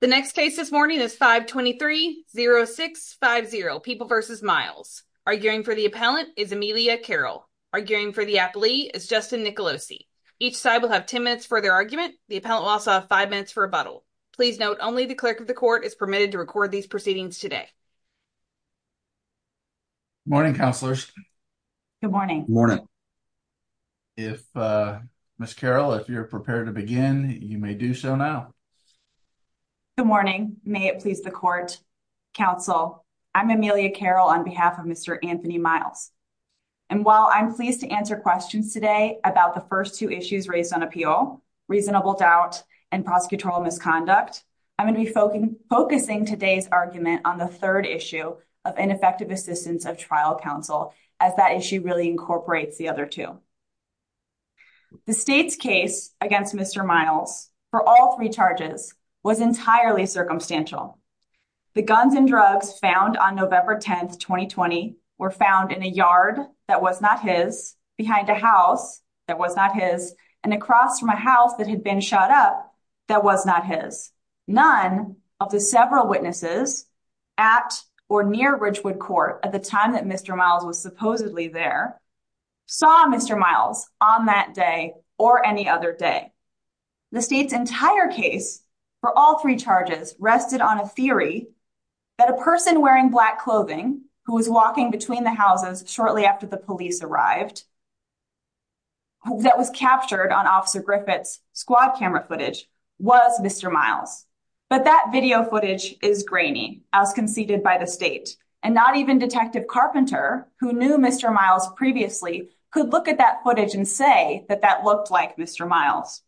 The next case this morning is 523-0650, People v. Miles. Arguing for the appellant is Amelia Carroll. Arguing for the applee is Justin Nicolosi. Each side will have 10 minutes for their argument. The appellant will also have 5 minutes for rebuttal. Please note, only the clerk of the court is permitted to record these proceedings today. Good morning, counselors. Good morning. Good morning. If, uh, Ms. Carroll, if you're prepared to begin, you may do so now. Good morning. May it please the court. Counsel, I'm Amelia Carroll on behalf of Mr. Anthony Miles. And while I'm pleased to answer questions today about the first two issues raised on appeal, reasonable doubt, and prosecutorial misconduct, I'm going to be focusing today's argument on the third issue of ineffective assistance of trial counsel, as that issue really incorporates the two. The state's case against Mr. Miles for all three charges was entirely circumstantial. The guns and drugs found on November 10, 2020, were found in a yard that was not his, behind a house that was not his, and across from a house that had been shot up that was not his. None of the several witnesses at or near Ridgewood Court at the time that Mr. Miles was supposedly there saw Mr. Miles on that day or any other day. The state's entire case for all three charges rested on a theory that a person wearing black clothing who was walking between the houses shortly after the police arrived, that was captured on Officer Griffith's squad camera footage, was Mr. Miles. But that video footage is grainy, as conceded by the state, and not even Detective Carpenter, who knew Mr. Miles previously, could look at that footage and say that that looked like Mr. Miles.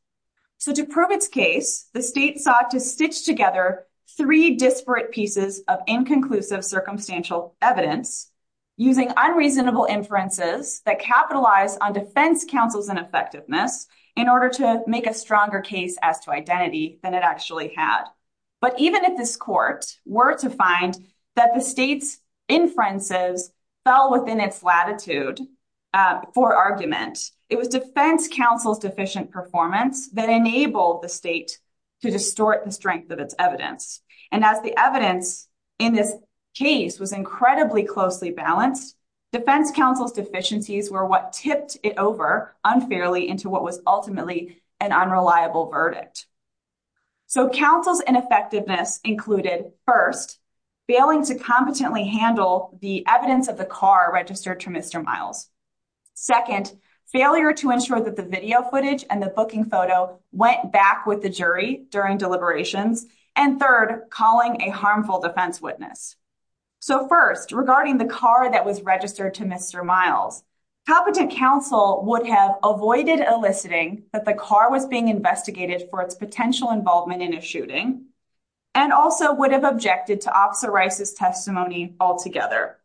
So to prove its case, the state sought to stitch together three disparate pieces of inconclusive circumstantial evidence using unreasonable inferences that capitalize on defense counsel's ineffectiveness in order to make a stronger case as to identity than it actually had. But even if this court were to find that the state's inferences fell within its latitude for argument, it was defense counsel's deficient performance that enabled the state to distort the strength of its evidence. And as the evidence in this case was incredibly closely balanced, defense counsel's deficiencies were what tipped it over unfairly into what was ultimately an unreliable verdict. So counsel's ineffectiveness included, first, failing to competently handle the evidence of the car registered to Mr. Miles. Second, failure to ensure that the video footage and the booking photo went back with the jury during deliberations. And third, calling a harmful defense witness. So first, regarding the car that was registered to Mr. Miles, competent counsel would have avoided eliciting that the car was being investigated for its potential involvement in a shooting and also would have objected to Officer Rice's testimony altogether.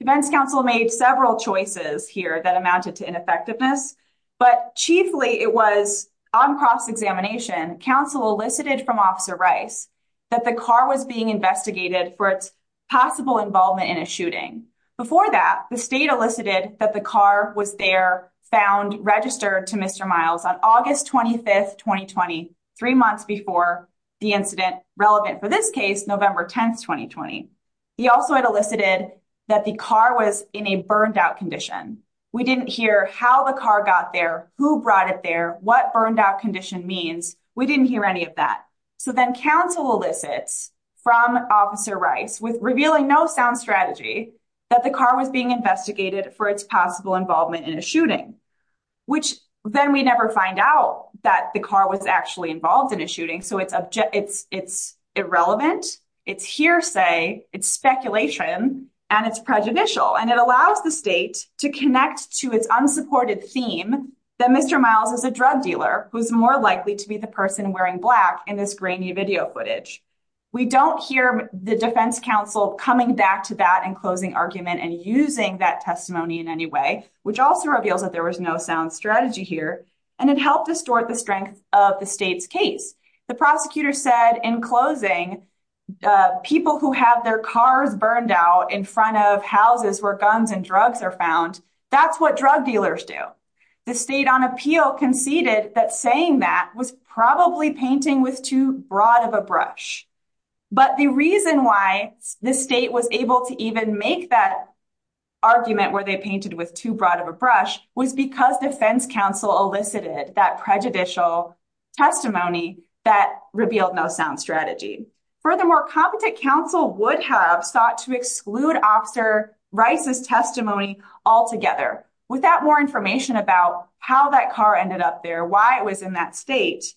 Defense counsel made several choices here that amounted to ineffectiveness, but chiefly it was on cross-examination, counsel elicited from Officer Rice that the car was being investigated for its possible involvement in a shooting. Before that, the state elicited that the car was there found registered to Mr. Miles on August 25th, 2020, three months before the incident relevant for this case, November 10th, 2020. He also had elicited that the car was in a burned-out condition. We didn't hear how the car got there, who brought it there, what burned-out condition means. We no sound strategy that the car was being investigated for its possible involvement in a shooting, which then we never find out that the car was actually involved in a shooting. So it's irrelevant, it's hearsay, it's speculation, and it's prejudicial. And it allows the state to connect to its unsupported theme that Mr. Miles is a drug dealer who's more likely to be person wearing black in this grainy video footage. We don't hear the defense counsel coming back to that in closing argument and using that testimony in any way, which also reveals that there was no sound strategy here, and it helped distort the strength of the state's case. The prosecutor said in closing, people who have their cars burned out in front of houses where guns and drugs are found, that's what drug dealers do. The state on appeal conceded that saying that was probably painting with too broad of a brush. But the reason why the state was able to even make that argument where they painted with too broad of a brush was because defense counsel elicited that prejudicial testimony that revealed no sound strategy. Furthermore, competent counsel would have sought to exclude Officer Rice's testimony altogether. Without more information about how that car ended up there, why it was in that state,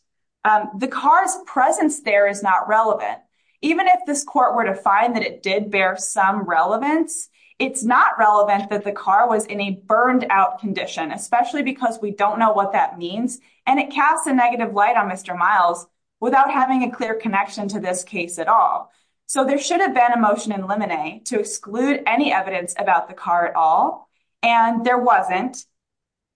the car's presence there is not relevant. Even if this court were to find that it did bear some relevance, it's not relevant that the car was in a burned out condition, especially because we don't know what that means, and it casts a negative light on Mr. Miles without having a clear connection to this case at all. So there should have been a about the car at all, and there wasn't.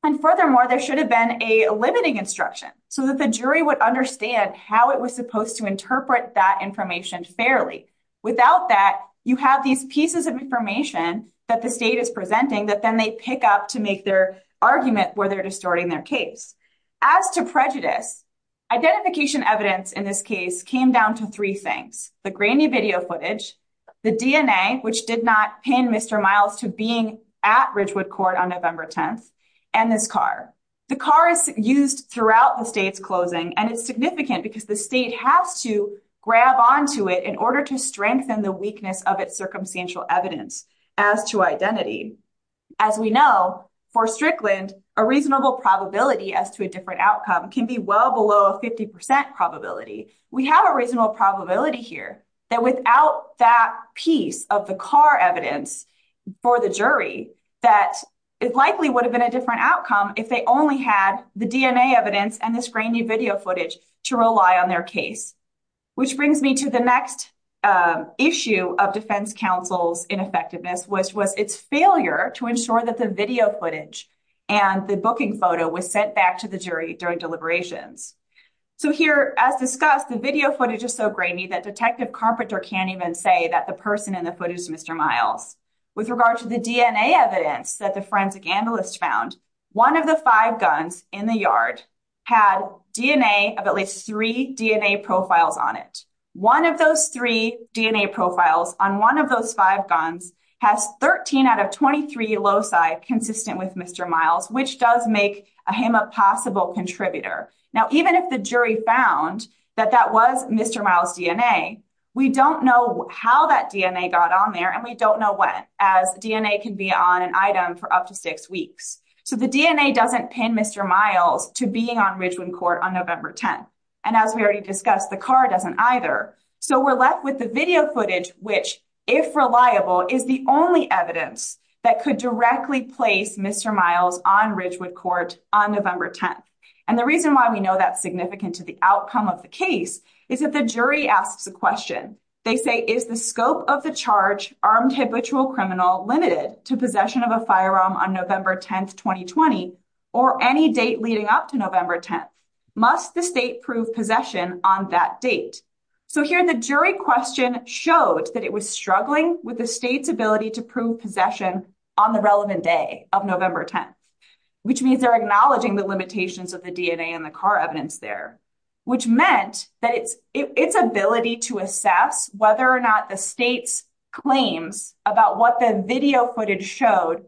And furthermore, there should have been a limiting instruction so that the jury would understand how it was supposed to interpret that information fairly. Without that, you have these pieces of information that the state is presenting that then they pick up to make their argument where they're distorting their case. As to prejudice, identification evidence in this case came down to three things. The grainy video footage, the DNA, which did not pin Mr. Miles to being at Ridgewood Court on November 10th, and this car. The car is used throughout the state's closing, and it's significant because the state has to grab onto it in order to strengthen the weakness of its circumstantial evidence. As to identity, as we know, for Strickland, a reasonable probability as to a different outcome can be well below a 50% probability. We have a reasonable probability here that without that piece of the car evidence for the jury that it likely would have been a different outcome if they only had the DNA evidence and this grainy video footage to rely on their case. Which brings me to the next issue of defense counsel's ineffectiveness, which was its failure to ensure that the video footage and the booking photo was sent back to the jury during deliberations. Here, as discussed, the video footage is so grainy that Detective Carpenter can't even say that the person in the footage is Mr. Miles. With regard to the DNA evidence that the forensic analyst found, one of the five guns in the yard had DNA of at least three DNA profiles on it. One of those three DNA profiles on one of those five guns has 13 out of 23 loci consistent with Mr. Miles, which does make him a possible contributor. Now, even if the jury found that that was Mr. Miles' DNA, we don't know how that DNA got on there and we don't know when, as DNA can be on an item for up to six weeks. So the DNA doesn't pin Mr. Miles to being on Ridgewood Court on November 10th. And as we already discussed, the car doesn't either. So we're left with the video footage, which, if reliable, is the only evidence that could directly place Mr. Miles on Ridgewood Court on November 10th. And the reason why we know that's significant to the outcome of the case is that the jury asks a question. They say, is the scope of the charge, armed habitual criminal, limited to possession of a firearm on November 10th, 2020, or any date leading up to November 10th? Must the state prove possession on that date? So here, the jury question showed that it was struggling with the state's ability to prove possession on the relevant day of November 10th, which means they're acknowledging the limitations of the DNA and the car evidence there, which meant that its ability to assess whether or not the state's claims about what the video footage showed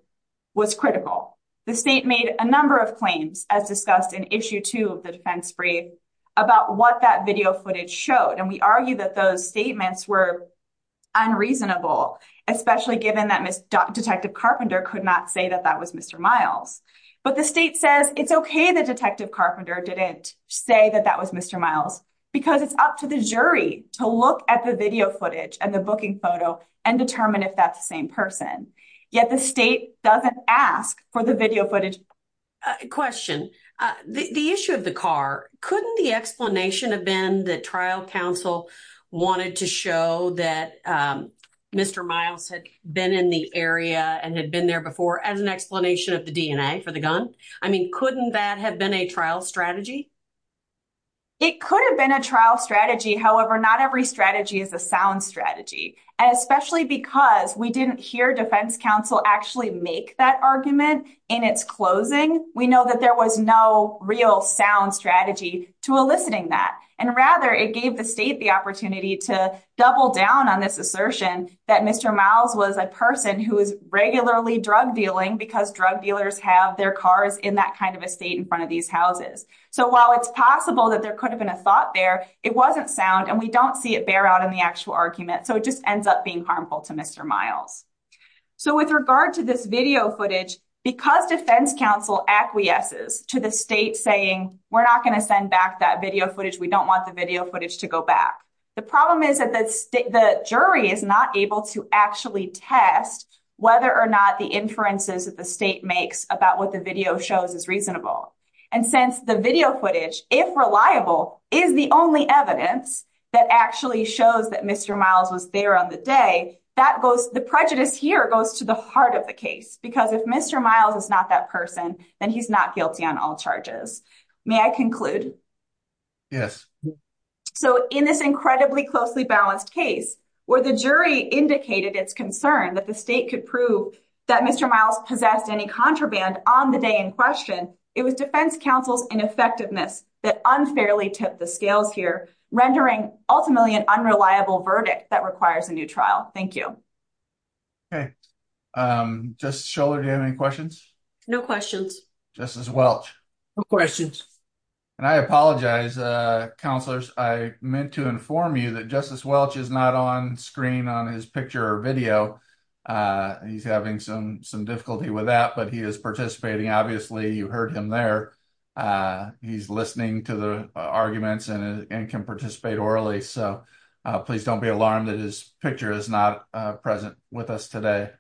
was critical. The state made a number of claims, as discussed in issue two of the defense brief, about what that video footage showed. And we argue that those statements were unreasonable, especially given that Detective Carpenter could not say that that was Mr. Miles. But the state says it's okay that Detective Carpenter didn't say that that was Mr. Miles, because it's up to the jury to look at the video footage and the booking photo and determine if that's the same person. Yet the state doesn't ask for the video wanted to show that Mr. Miles had been in the area and had been there before as an explanation of the DNA for the gun. I mean, couldn't that have been a trial strategy? It could have been a trial strategy. However, not every strategy is a sound strategy, especially because we didn't hear defense counsel actually make that argument in its closing. We know that there was no real sound strategy to eliciting that. And rather, it gave the state the opportunity to double down on this assertion that Mr. Miles was a person who is regularly drug dealing because drug dealers have their cars in that kind of estate in front of these houses. So while it's possible that there could have been a thought there, it wasn't sound and we don't see it bear out in the actual argument. So it just ends up being harmful to Mr. Miles. So with regard to this video footage, because defense counsel acquiesces to the state saying, we're not going to send back that video footage, we don't want the video footage to go back. The problem is that the jury is not able to actually test whether or not the inferences that the state makes about what the video shows is reasonable. And since the video footage, if reliable, is the only evidence that actually shows that Mr. Miles was there on the day, the prejudice here goes to the heart of the case. Because if Mr. Miles is not that person, then he's not guilty on all charges. May I conclude? Yes. So in this incredibly closely balanced case, where the jury indicated its concern that the state could prove that Mr. Miles possessed any contraband on the day in question, it was defense counsel's ineffectiveness that unfairly tipped the scales here, rendering ultimately an unreliable verdict that requires a new trial. Thank you. Okay. Justice Scholar, do you have any questions? No questions. Justice Welch? No questions. And I apologize, counselors, I meant to inform you that Justice Welch is not on screen on his picture or video. He's having some difficulty with that, but he is participating. Obviously, you heard him there. He's listening to the arguments and can participate orally. So please don't be alarmed that his picture is not present with us today.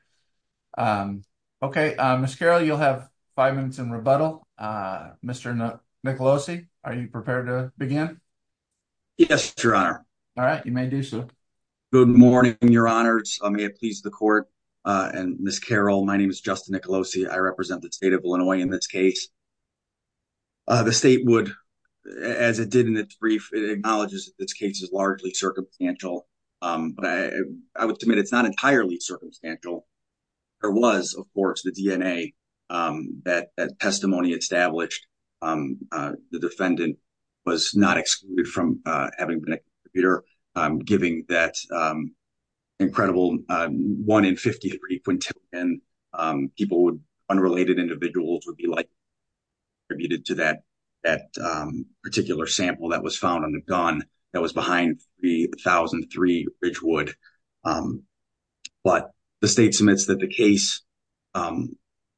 Okay, Ms. Carroll, you'll have five minutes in rebuttal. Mr. Nicolosi, are you prepared to begin? Yes, your honor. All right, you may do so. Good morning, your honors. May it please the court. And Ms. Carroll, my name is Justin Nicolosi. I represent the state of Illinois in this case. The state would, as it did in its brief, it acknowledges that this case is largely circumstantial. But I would submit it's not entirely circumstantial. There was, of course, the DNA that testimony established the defendant was not excluded from having been a contributor, giving that incredible one in 53 quintillion people would, unrelated individuals would be attributed to that particular sample that was found on the gun that was behind the thousand three Ridgewood. But the state submits that the case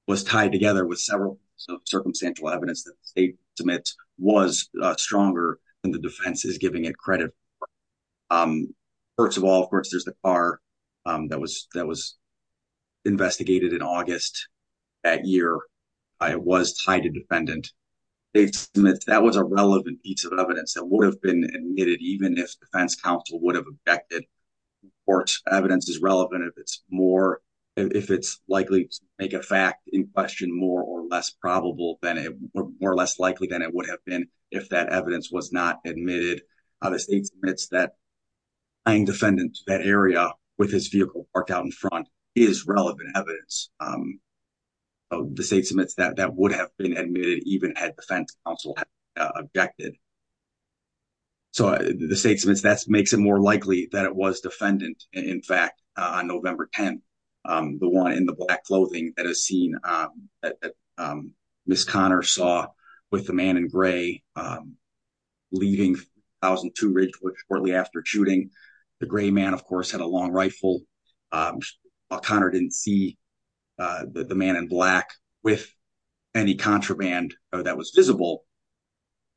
was tied together with several circumstantial evidence that the state submits was stronger than the defense is giving it credit. First of all, of course, there's the car that was investigated in August that year. I was tied to defendant. That was a relevant piece of evidence that would have been admitted, even if defense counsel would have objected or evidence is relevant. If it's more, if it's likely to make a fact in question more or less probable than it, more or less likely than it would have been if that evidence was not admitted. Obviously, it's that I am defendant that area with his vehicle parked out in front is relevant evidence. The state submits that that would have been admitted, even had defense counsel objected. So the state submits, that's makes it more likely that it was defendant. In fact, on November 10th, the one in the black clothing that has seen Miss Connor saw with the man in gray, leaving thousand two Ridgewood shortly after shooting. The gray man, of course, had a long rifle. Connor didn't see the man in black with any contraband that was visible.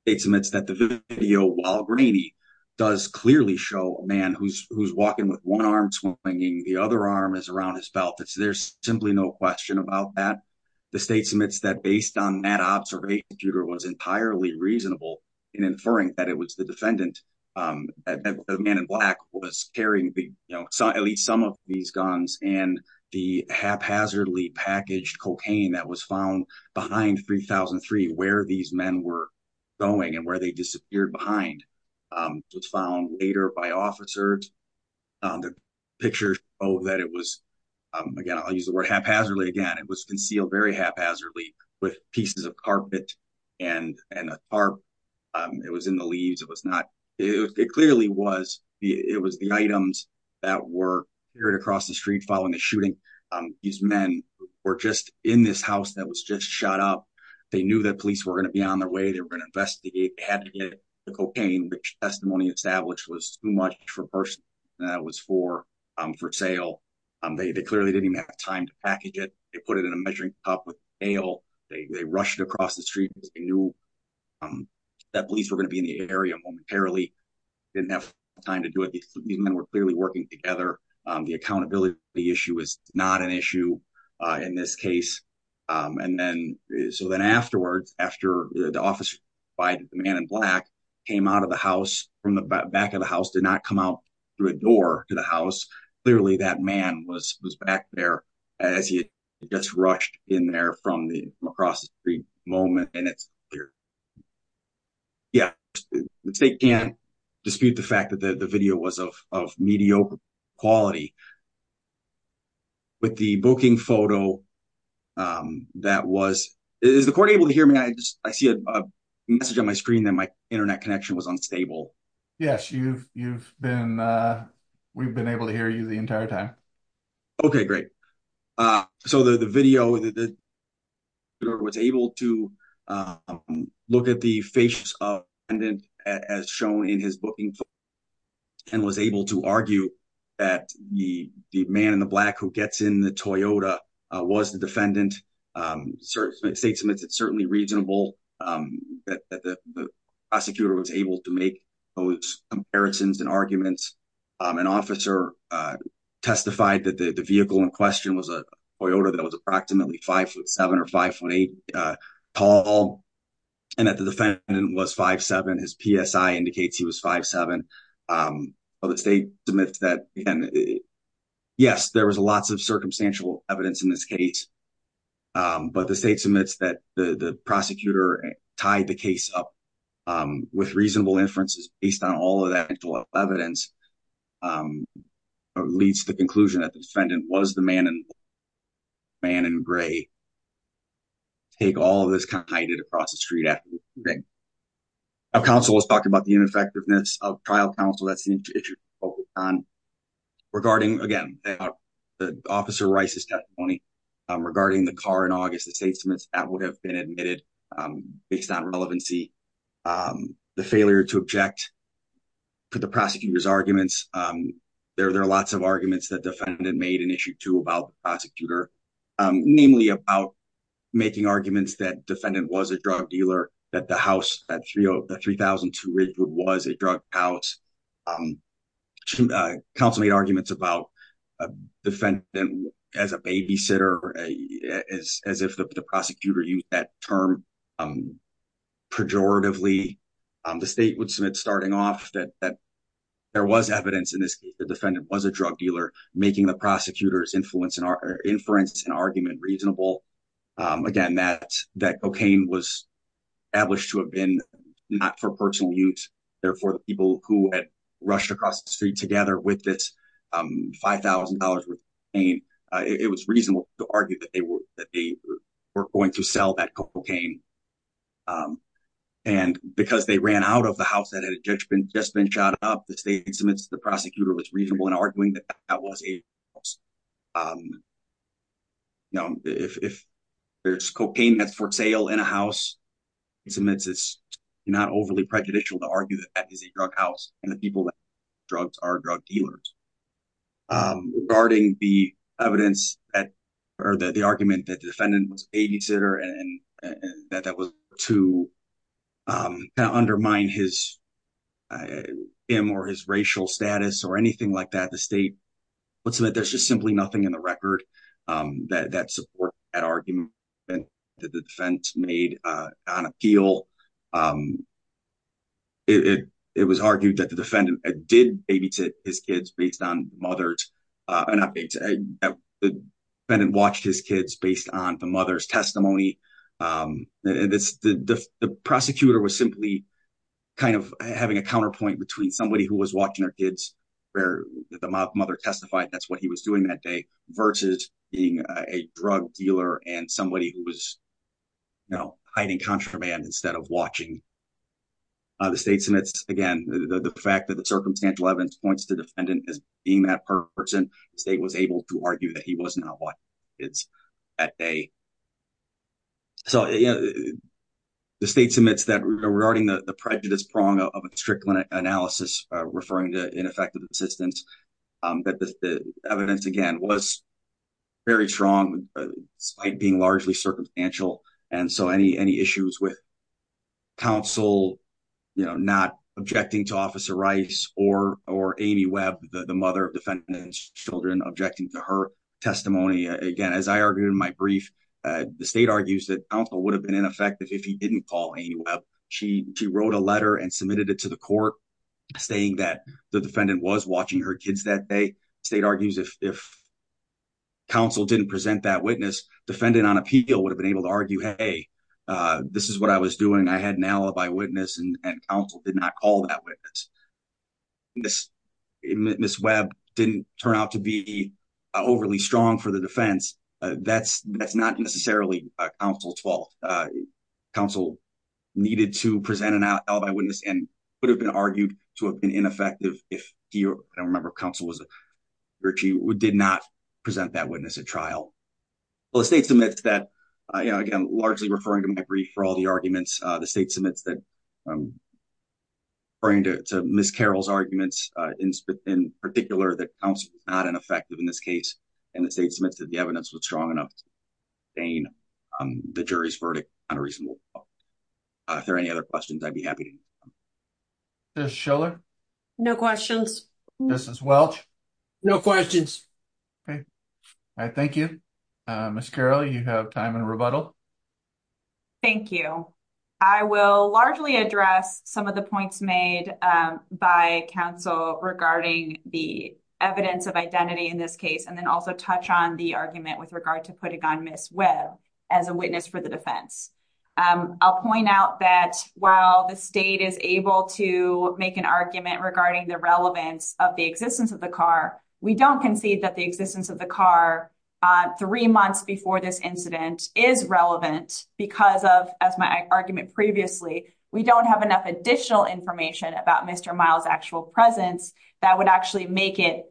It's amidst that the video while grainy does clearly show a man who's walking with one arm swinging. The other arm is around his belt. There's simply no question about that. The state submits that based on that observation, Jeter was entirely reasonable in inferring that it was the defendant. A man in black was carrying at least some of these guns and the haphazardly packaged cocaine that was found behind 3003, where these men were going and where they disappeared behind was found later by officers. The picture, oh, that it was, again, I'll use the word haphazardly. Again, it was concealed very haphazardly with pieces of and, and it was in the leaves. It was not, it clearly was the, it was the items that were carried across the street following the shooting. These men were just in this house that was just shot up. They knew that police were going to be on their way. They were going to investigate, they had to get the cocaine, which testimony established was too much for burst. That was for, for sale. They clearly didn't even have time to package it. They put it in a measuring cup with ale. They rushed across the street because they knew that police were going to be in the area momentarily. Didn't have time to do it. These men were clearly working together. The accountability issue is not an issue in this case. And then, so then afterwards, after the officer by the man in black came out of the house from the back of the house, did not come out through a door to the across the street moment. And it's yeah, they can't dispute the fact that the video was of, of mediocre quality with the booking photo. That was, is the court able to hear me? I just, I see a message on my screen that my internet connection was unstable. Yes, you've, you've been, we've been able to hear you the entire time. Okay, great. So the, the video that was able to look at the face of pendant as shown in his booking and was able to argue that the, the man in the black who gets in the Toyota was the defendant state submits. It's certainly reasonable that the prosecutor was able to make those comparisons and an officer testified that the vehicle in question was a Toyota that was approximately five foot seven or five foot eight tall. And that the defendant was five, seven, his PSI indicates he was five, seven of the state to myth that, yes, there was lots of circumstantial evidence in this case. But the state submits that the prosecutor tied the case up with reasonable inferences based on all of that evidence or leads to the conclusion that the defendant was the man and man in gray, take all of this kind of hide it across the street. I've counseled us talking about the ineffectiveness of trial counsel. That's the issue regarding again, the officer Rice's testimony regarding the car in August, the statements that would have been admitted based on relevancy, the failure to object to the prosecutor's arguments. There, there are lots of arguments that defendant made an issue to about prosecutor, namely about making arguments that defendant was a drug dealer, that the house at three, the 3,002 Ridgewood was a drug house. Counsel made arguments about a defendant as a babysitter, as, as if the prosecutor used that term pejoratively, the state would submit starting off that, that there was evidence in this case, the defendant was a drug dealer, making the prosecutor's influence in our inference and argument reasonable. Again, that that cocaine was ablished to have been not for personal use. Therefore, the people who had together with this $5,000, it was reasonable to argue that they were, that they were going to sell that cocaine. And because they ran out of the house that had a judgment, just been shot up, the state submits, the prosecutor was reasonable in arguing that that was a, you know, if, if there's cocaine that's for sale in a house, it's not overly prejudicial to argue that that is a drug house and the people that drugs are drug dealers. Regarding the evidence that, or the, the argument that the defendant was a babysitter and that that was to kind of undermine his, him or his racial status or anything like that, the state would submit, there's just simply nothing in the record that, that support that argument that the defense made on appeal. It, it, it was argued that the defendant did babysit his kids based on mother's, not babysit, the defendant watched his kids based on the mother's testimony. And this, the, the prosecutor was simply kind of having a counterpoint between somebody who was watching their kids where the mother testified, that's what he was doing that day versus being a drug dealer and somebody who was, you know, hiding contraband instead of watching. The state submits again, the fact that the circumstantial evidence points to the defendant as being that person, the state was able to argue that he was not watching his kids that day. So the state submits that regarding the prejudice prong of a strict analysis, referring to ineffective assistance, that the evidence again was very strong, despite being largely circumstantial. And so any, any issues with counsel, you know, not objecting to officer Rice or, or Amy Webb, the mother of defendant's children objecting to her testimony. Again, as I argued in my brief, the state argues that counsel would have been ineffective if he didn't call Amy Webb. She, she wrote a letter and submitted it to the court. Saying that the defendant was watching her kids that day. State argues if, if counsel didn't present that witness, defendant on appeal would have been able to argue, hey, this is what I was doing. I had an alibi witness and counsel did not call that witness. This, Ms. Webb didn't turn out to be overly strong for the defense. That's, that's not necessarily counsel's fault. Counsel needed to present an alibi witness and would have argued to have been ineffective if he, or I don't remember if counsel was, or she did not present that witness at trial. Well, the state submits that, you know, again, largely referring to my brief for all the arguments, the state submits that referring to Ms. Carroll's arguments in particular, that counsel was not ineffective in this case. And the state submits that the evidence was strong enough to sustain the jury's verdict on a reasonable basis. If there are any other questions, I'd be happy. Ms. Schiller? No questions. Ms. Welch? No questions. Okay. All right. Thank you. Ms. Carroll, you have time in rebuttal. Thank you. I will largely address some of the points made by counsel regarding the evidence of identity in this case, and then also touch on the argument with regard to putting on Ms. Webb as a witness for the defense. I'll point out that while the state is able to make an argument regarding the relevance of the existence of the car, we don't concede that the existence of the car three months before this incident is relevant because of, as my argument previously, we don't have enough additional information about Mr. Miles' actual presence that would actually make a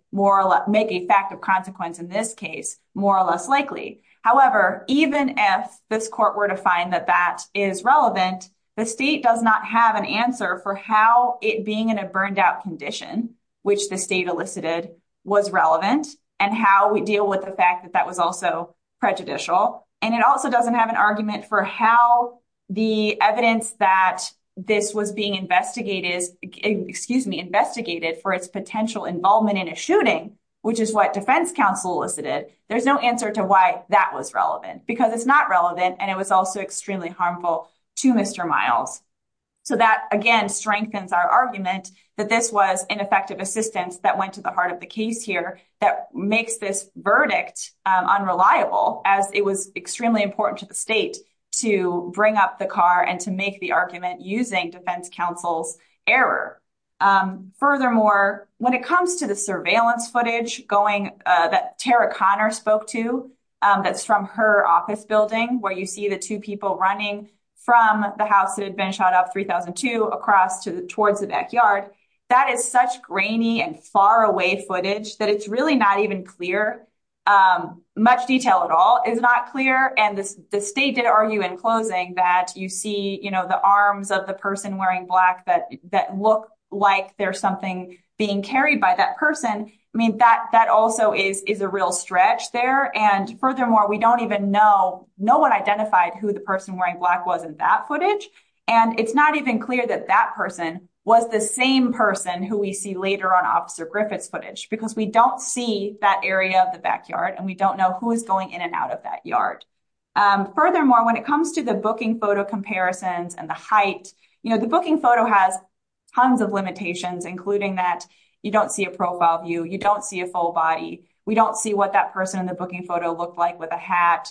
fact of consequence in this case more or less likely. However, even if this court were to find that that is relevant, the state does not have an answer for how it being in a burned-out condition, which the state elicited, was relevant and how we deal with the fact that that was also prejudicial. And it also doesn't have an argument for how the evidence that this was being investigated for its potential involvement in a shooting, which is what defense counsel elicited, there's no answer to why that was relevant because it's not relevant and it was also extremely harmful to Mr. Miles. So that, again, strengthens our argument that this was ineffective assistance that went to the heart of the case here that makes this verdict unreliable as it was extremely important to the state to bring up the car and to make the argument using defense counsel's error. Furthermore, when it comes to the surveillance footage going that Tara Conner spoke to that's from her office building where you see the two people running from the house that had been shot up 3002 across to the towards the backyard, that is such grainy and far away footage that it's really not even clear. Much detail at all is not clear and the state did argue in closing that you see the arms of the person wearing black that look like there's something being carried by that person. I mean, that also is a real stretch there. And furthermore, we don't even know, no one identified who the person wearing black was in that footage. And it's not even clear that that person was the same person who we see later on Officer Griffith's footage because we don't see that area of the backyard and we don't know who is going in and out of that yard. Furthermore, when it comes to the booking photo comparisons and the height, the booking photo has tons of limitations including that you don't see a profile view, you don't see a full body, we don't see what that person in the booking photo looked like with a hat.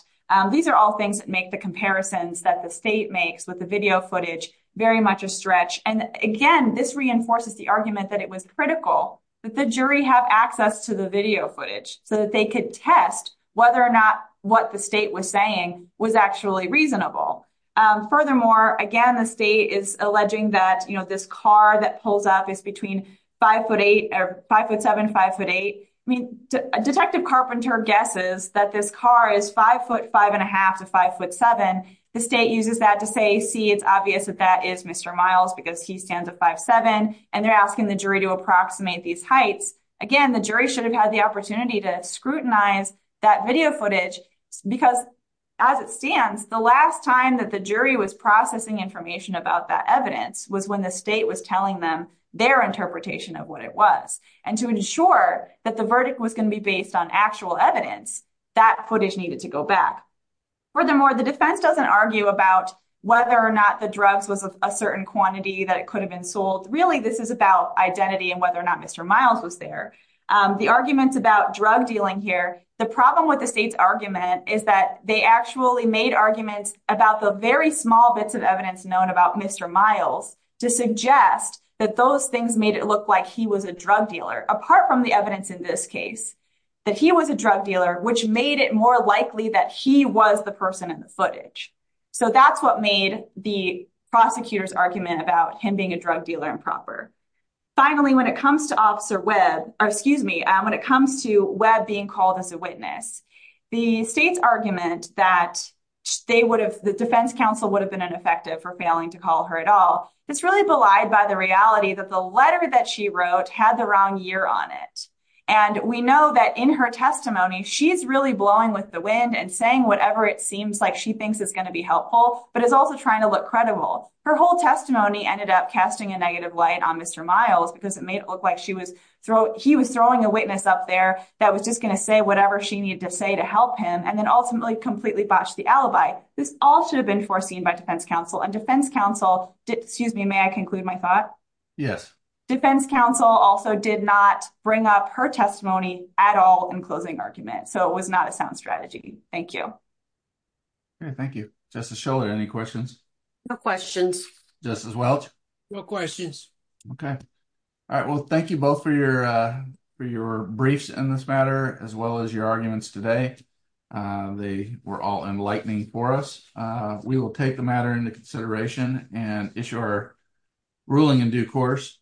These are all things that make the comparisons that the state makes with the video footage very much a stretch. And again, this reinforces the argument that it was critical that the jury have access to the video footage so that they could test whether or not what the state was saying was actually reasonable. Furthermore, again, the state is alleging that this car that pulls up is between five foot eight or five foot seven, five foot eight. I mean, Detective Carpenter guesses that this car is five foot five and a half to five foot seven. The state uses that to say, see, it's obvious that that is Mr. Miles because he stands at five seven and they're asking the jury to approximate these heights. Again, the jury should have had the opportunity to scrutinize that video footage because as it stands, the last time that the jury was processing information about that evidence was when the state was telling them their interpretation of what it was. And to ensure that the verdict was going to be based on actual evidence, that footage needed to go back. Furthermore, the defense doesn't argue about whether or not the drugs was a certain quantity that it could have been sold. Really, this is about identity and whether or not Mr. Miles was there. The arguments about drug dealing here, the problem with the state's argument is that they actually made arguments about the very small bits of evidence known about Mr. Miles to suggest that those things made it look like he was a drug dealer, apart from the evidence in this case, that he was a drug dealer, which made it more likely that he was the person in the footage. So that's what made the prosecutor's argument about him being a drug dealer improper. Finally, when it comes to Officer Webb, or excuse me, when it comes to Webb being called as a witness, the state's argument that they would have, the defense counsel would have been ineffective for failing to call her at all, is really belied by the reality that the letter that she wrote had the wrong year on it. And we know that in her testimony, she's blowing with the wind and saying whatever it seems like she thinks is going to be helpful, but is also trying to look credible. Her whole testimony ended up casting a negative light on Mr. Miles because it made it look like he was throwing a witness up there that was just going to say whatever she needed to say to help him, and then ultimately completely botched the alibi. This all should have been foreseen by defense counsel and defense counsel, excuse me, may I conclude my thought? Yes. Defense counsel also did not bring up her testimony at all in the closing argument, so it was not a sound strategy. Thank you. Okay, thank you. Justice Schiller, any questions? No questions. Justice Welch? No questions. Okay. All right. Well, thank you both for your briefs in this matter, as well as your arguments today. They were all enlightening for us. We will take the matter into consideration and issue our ruling in due course.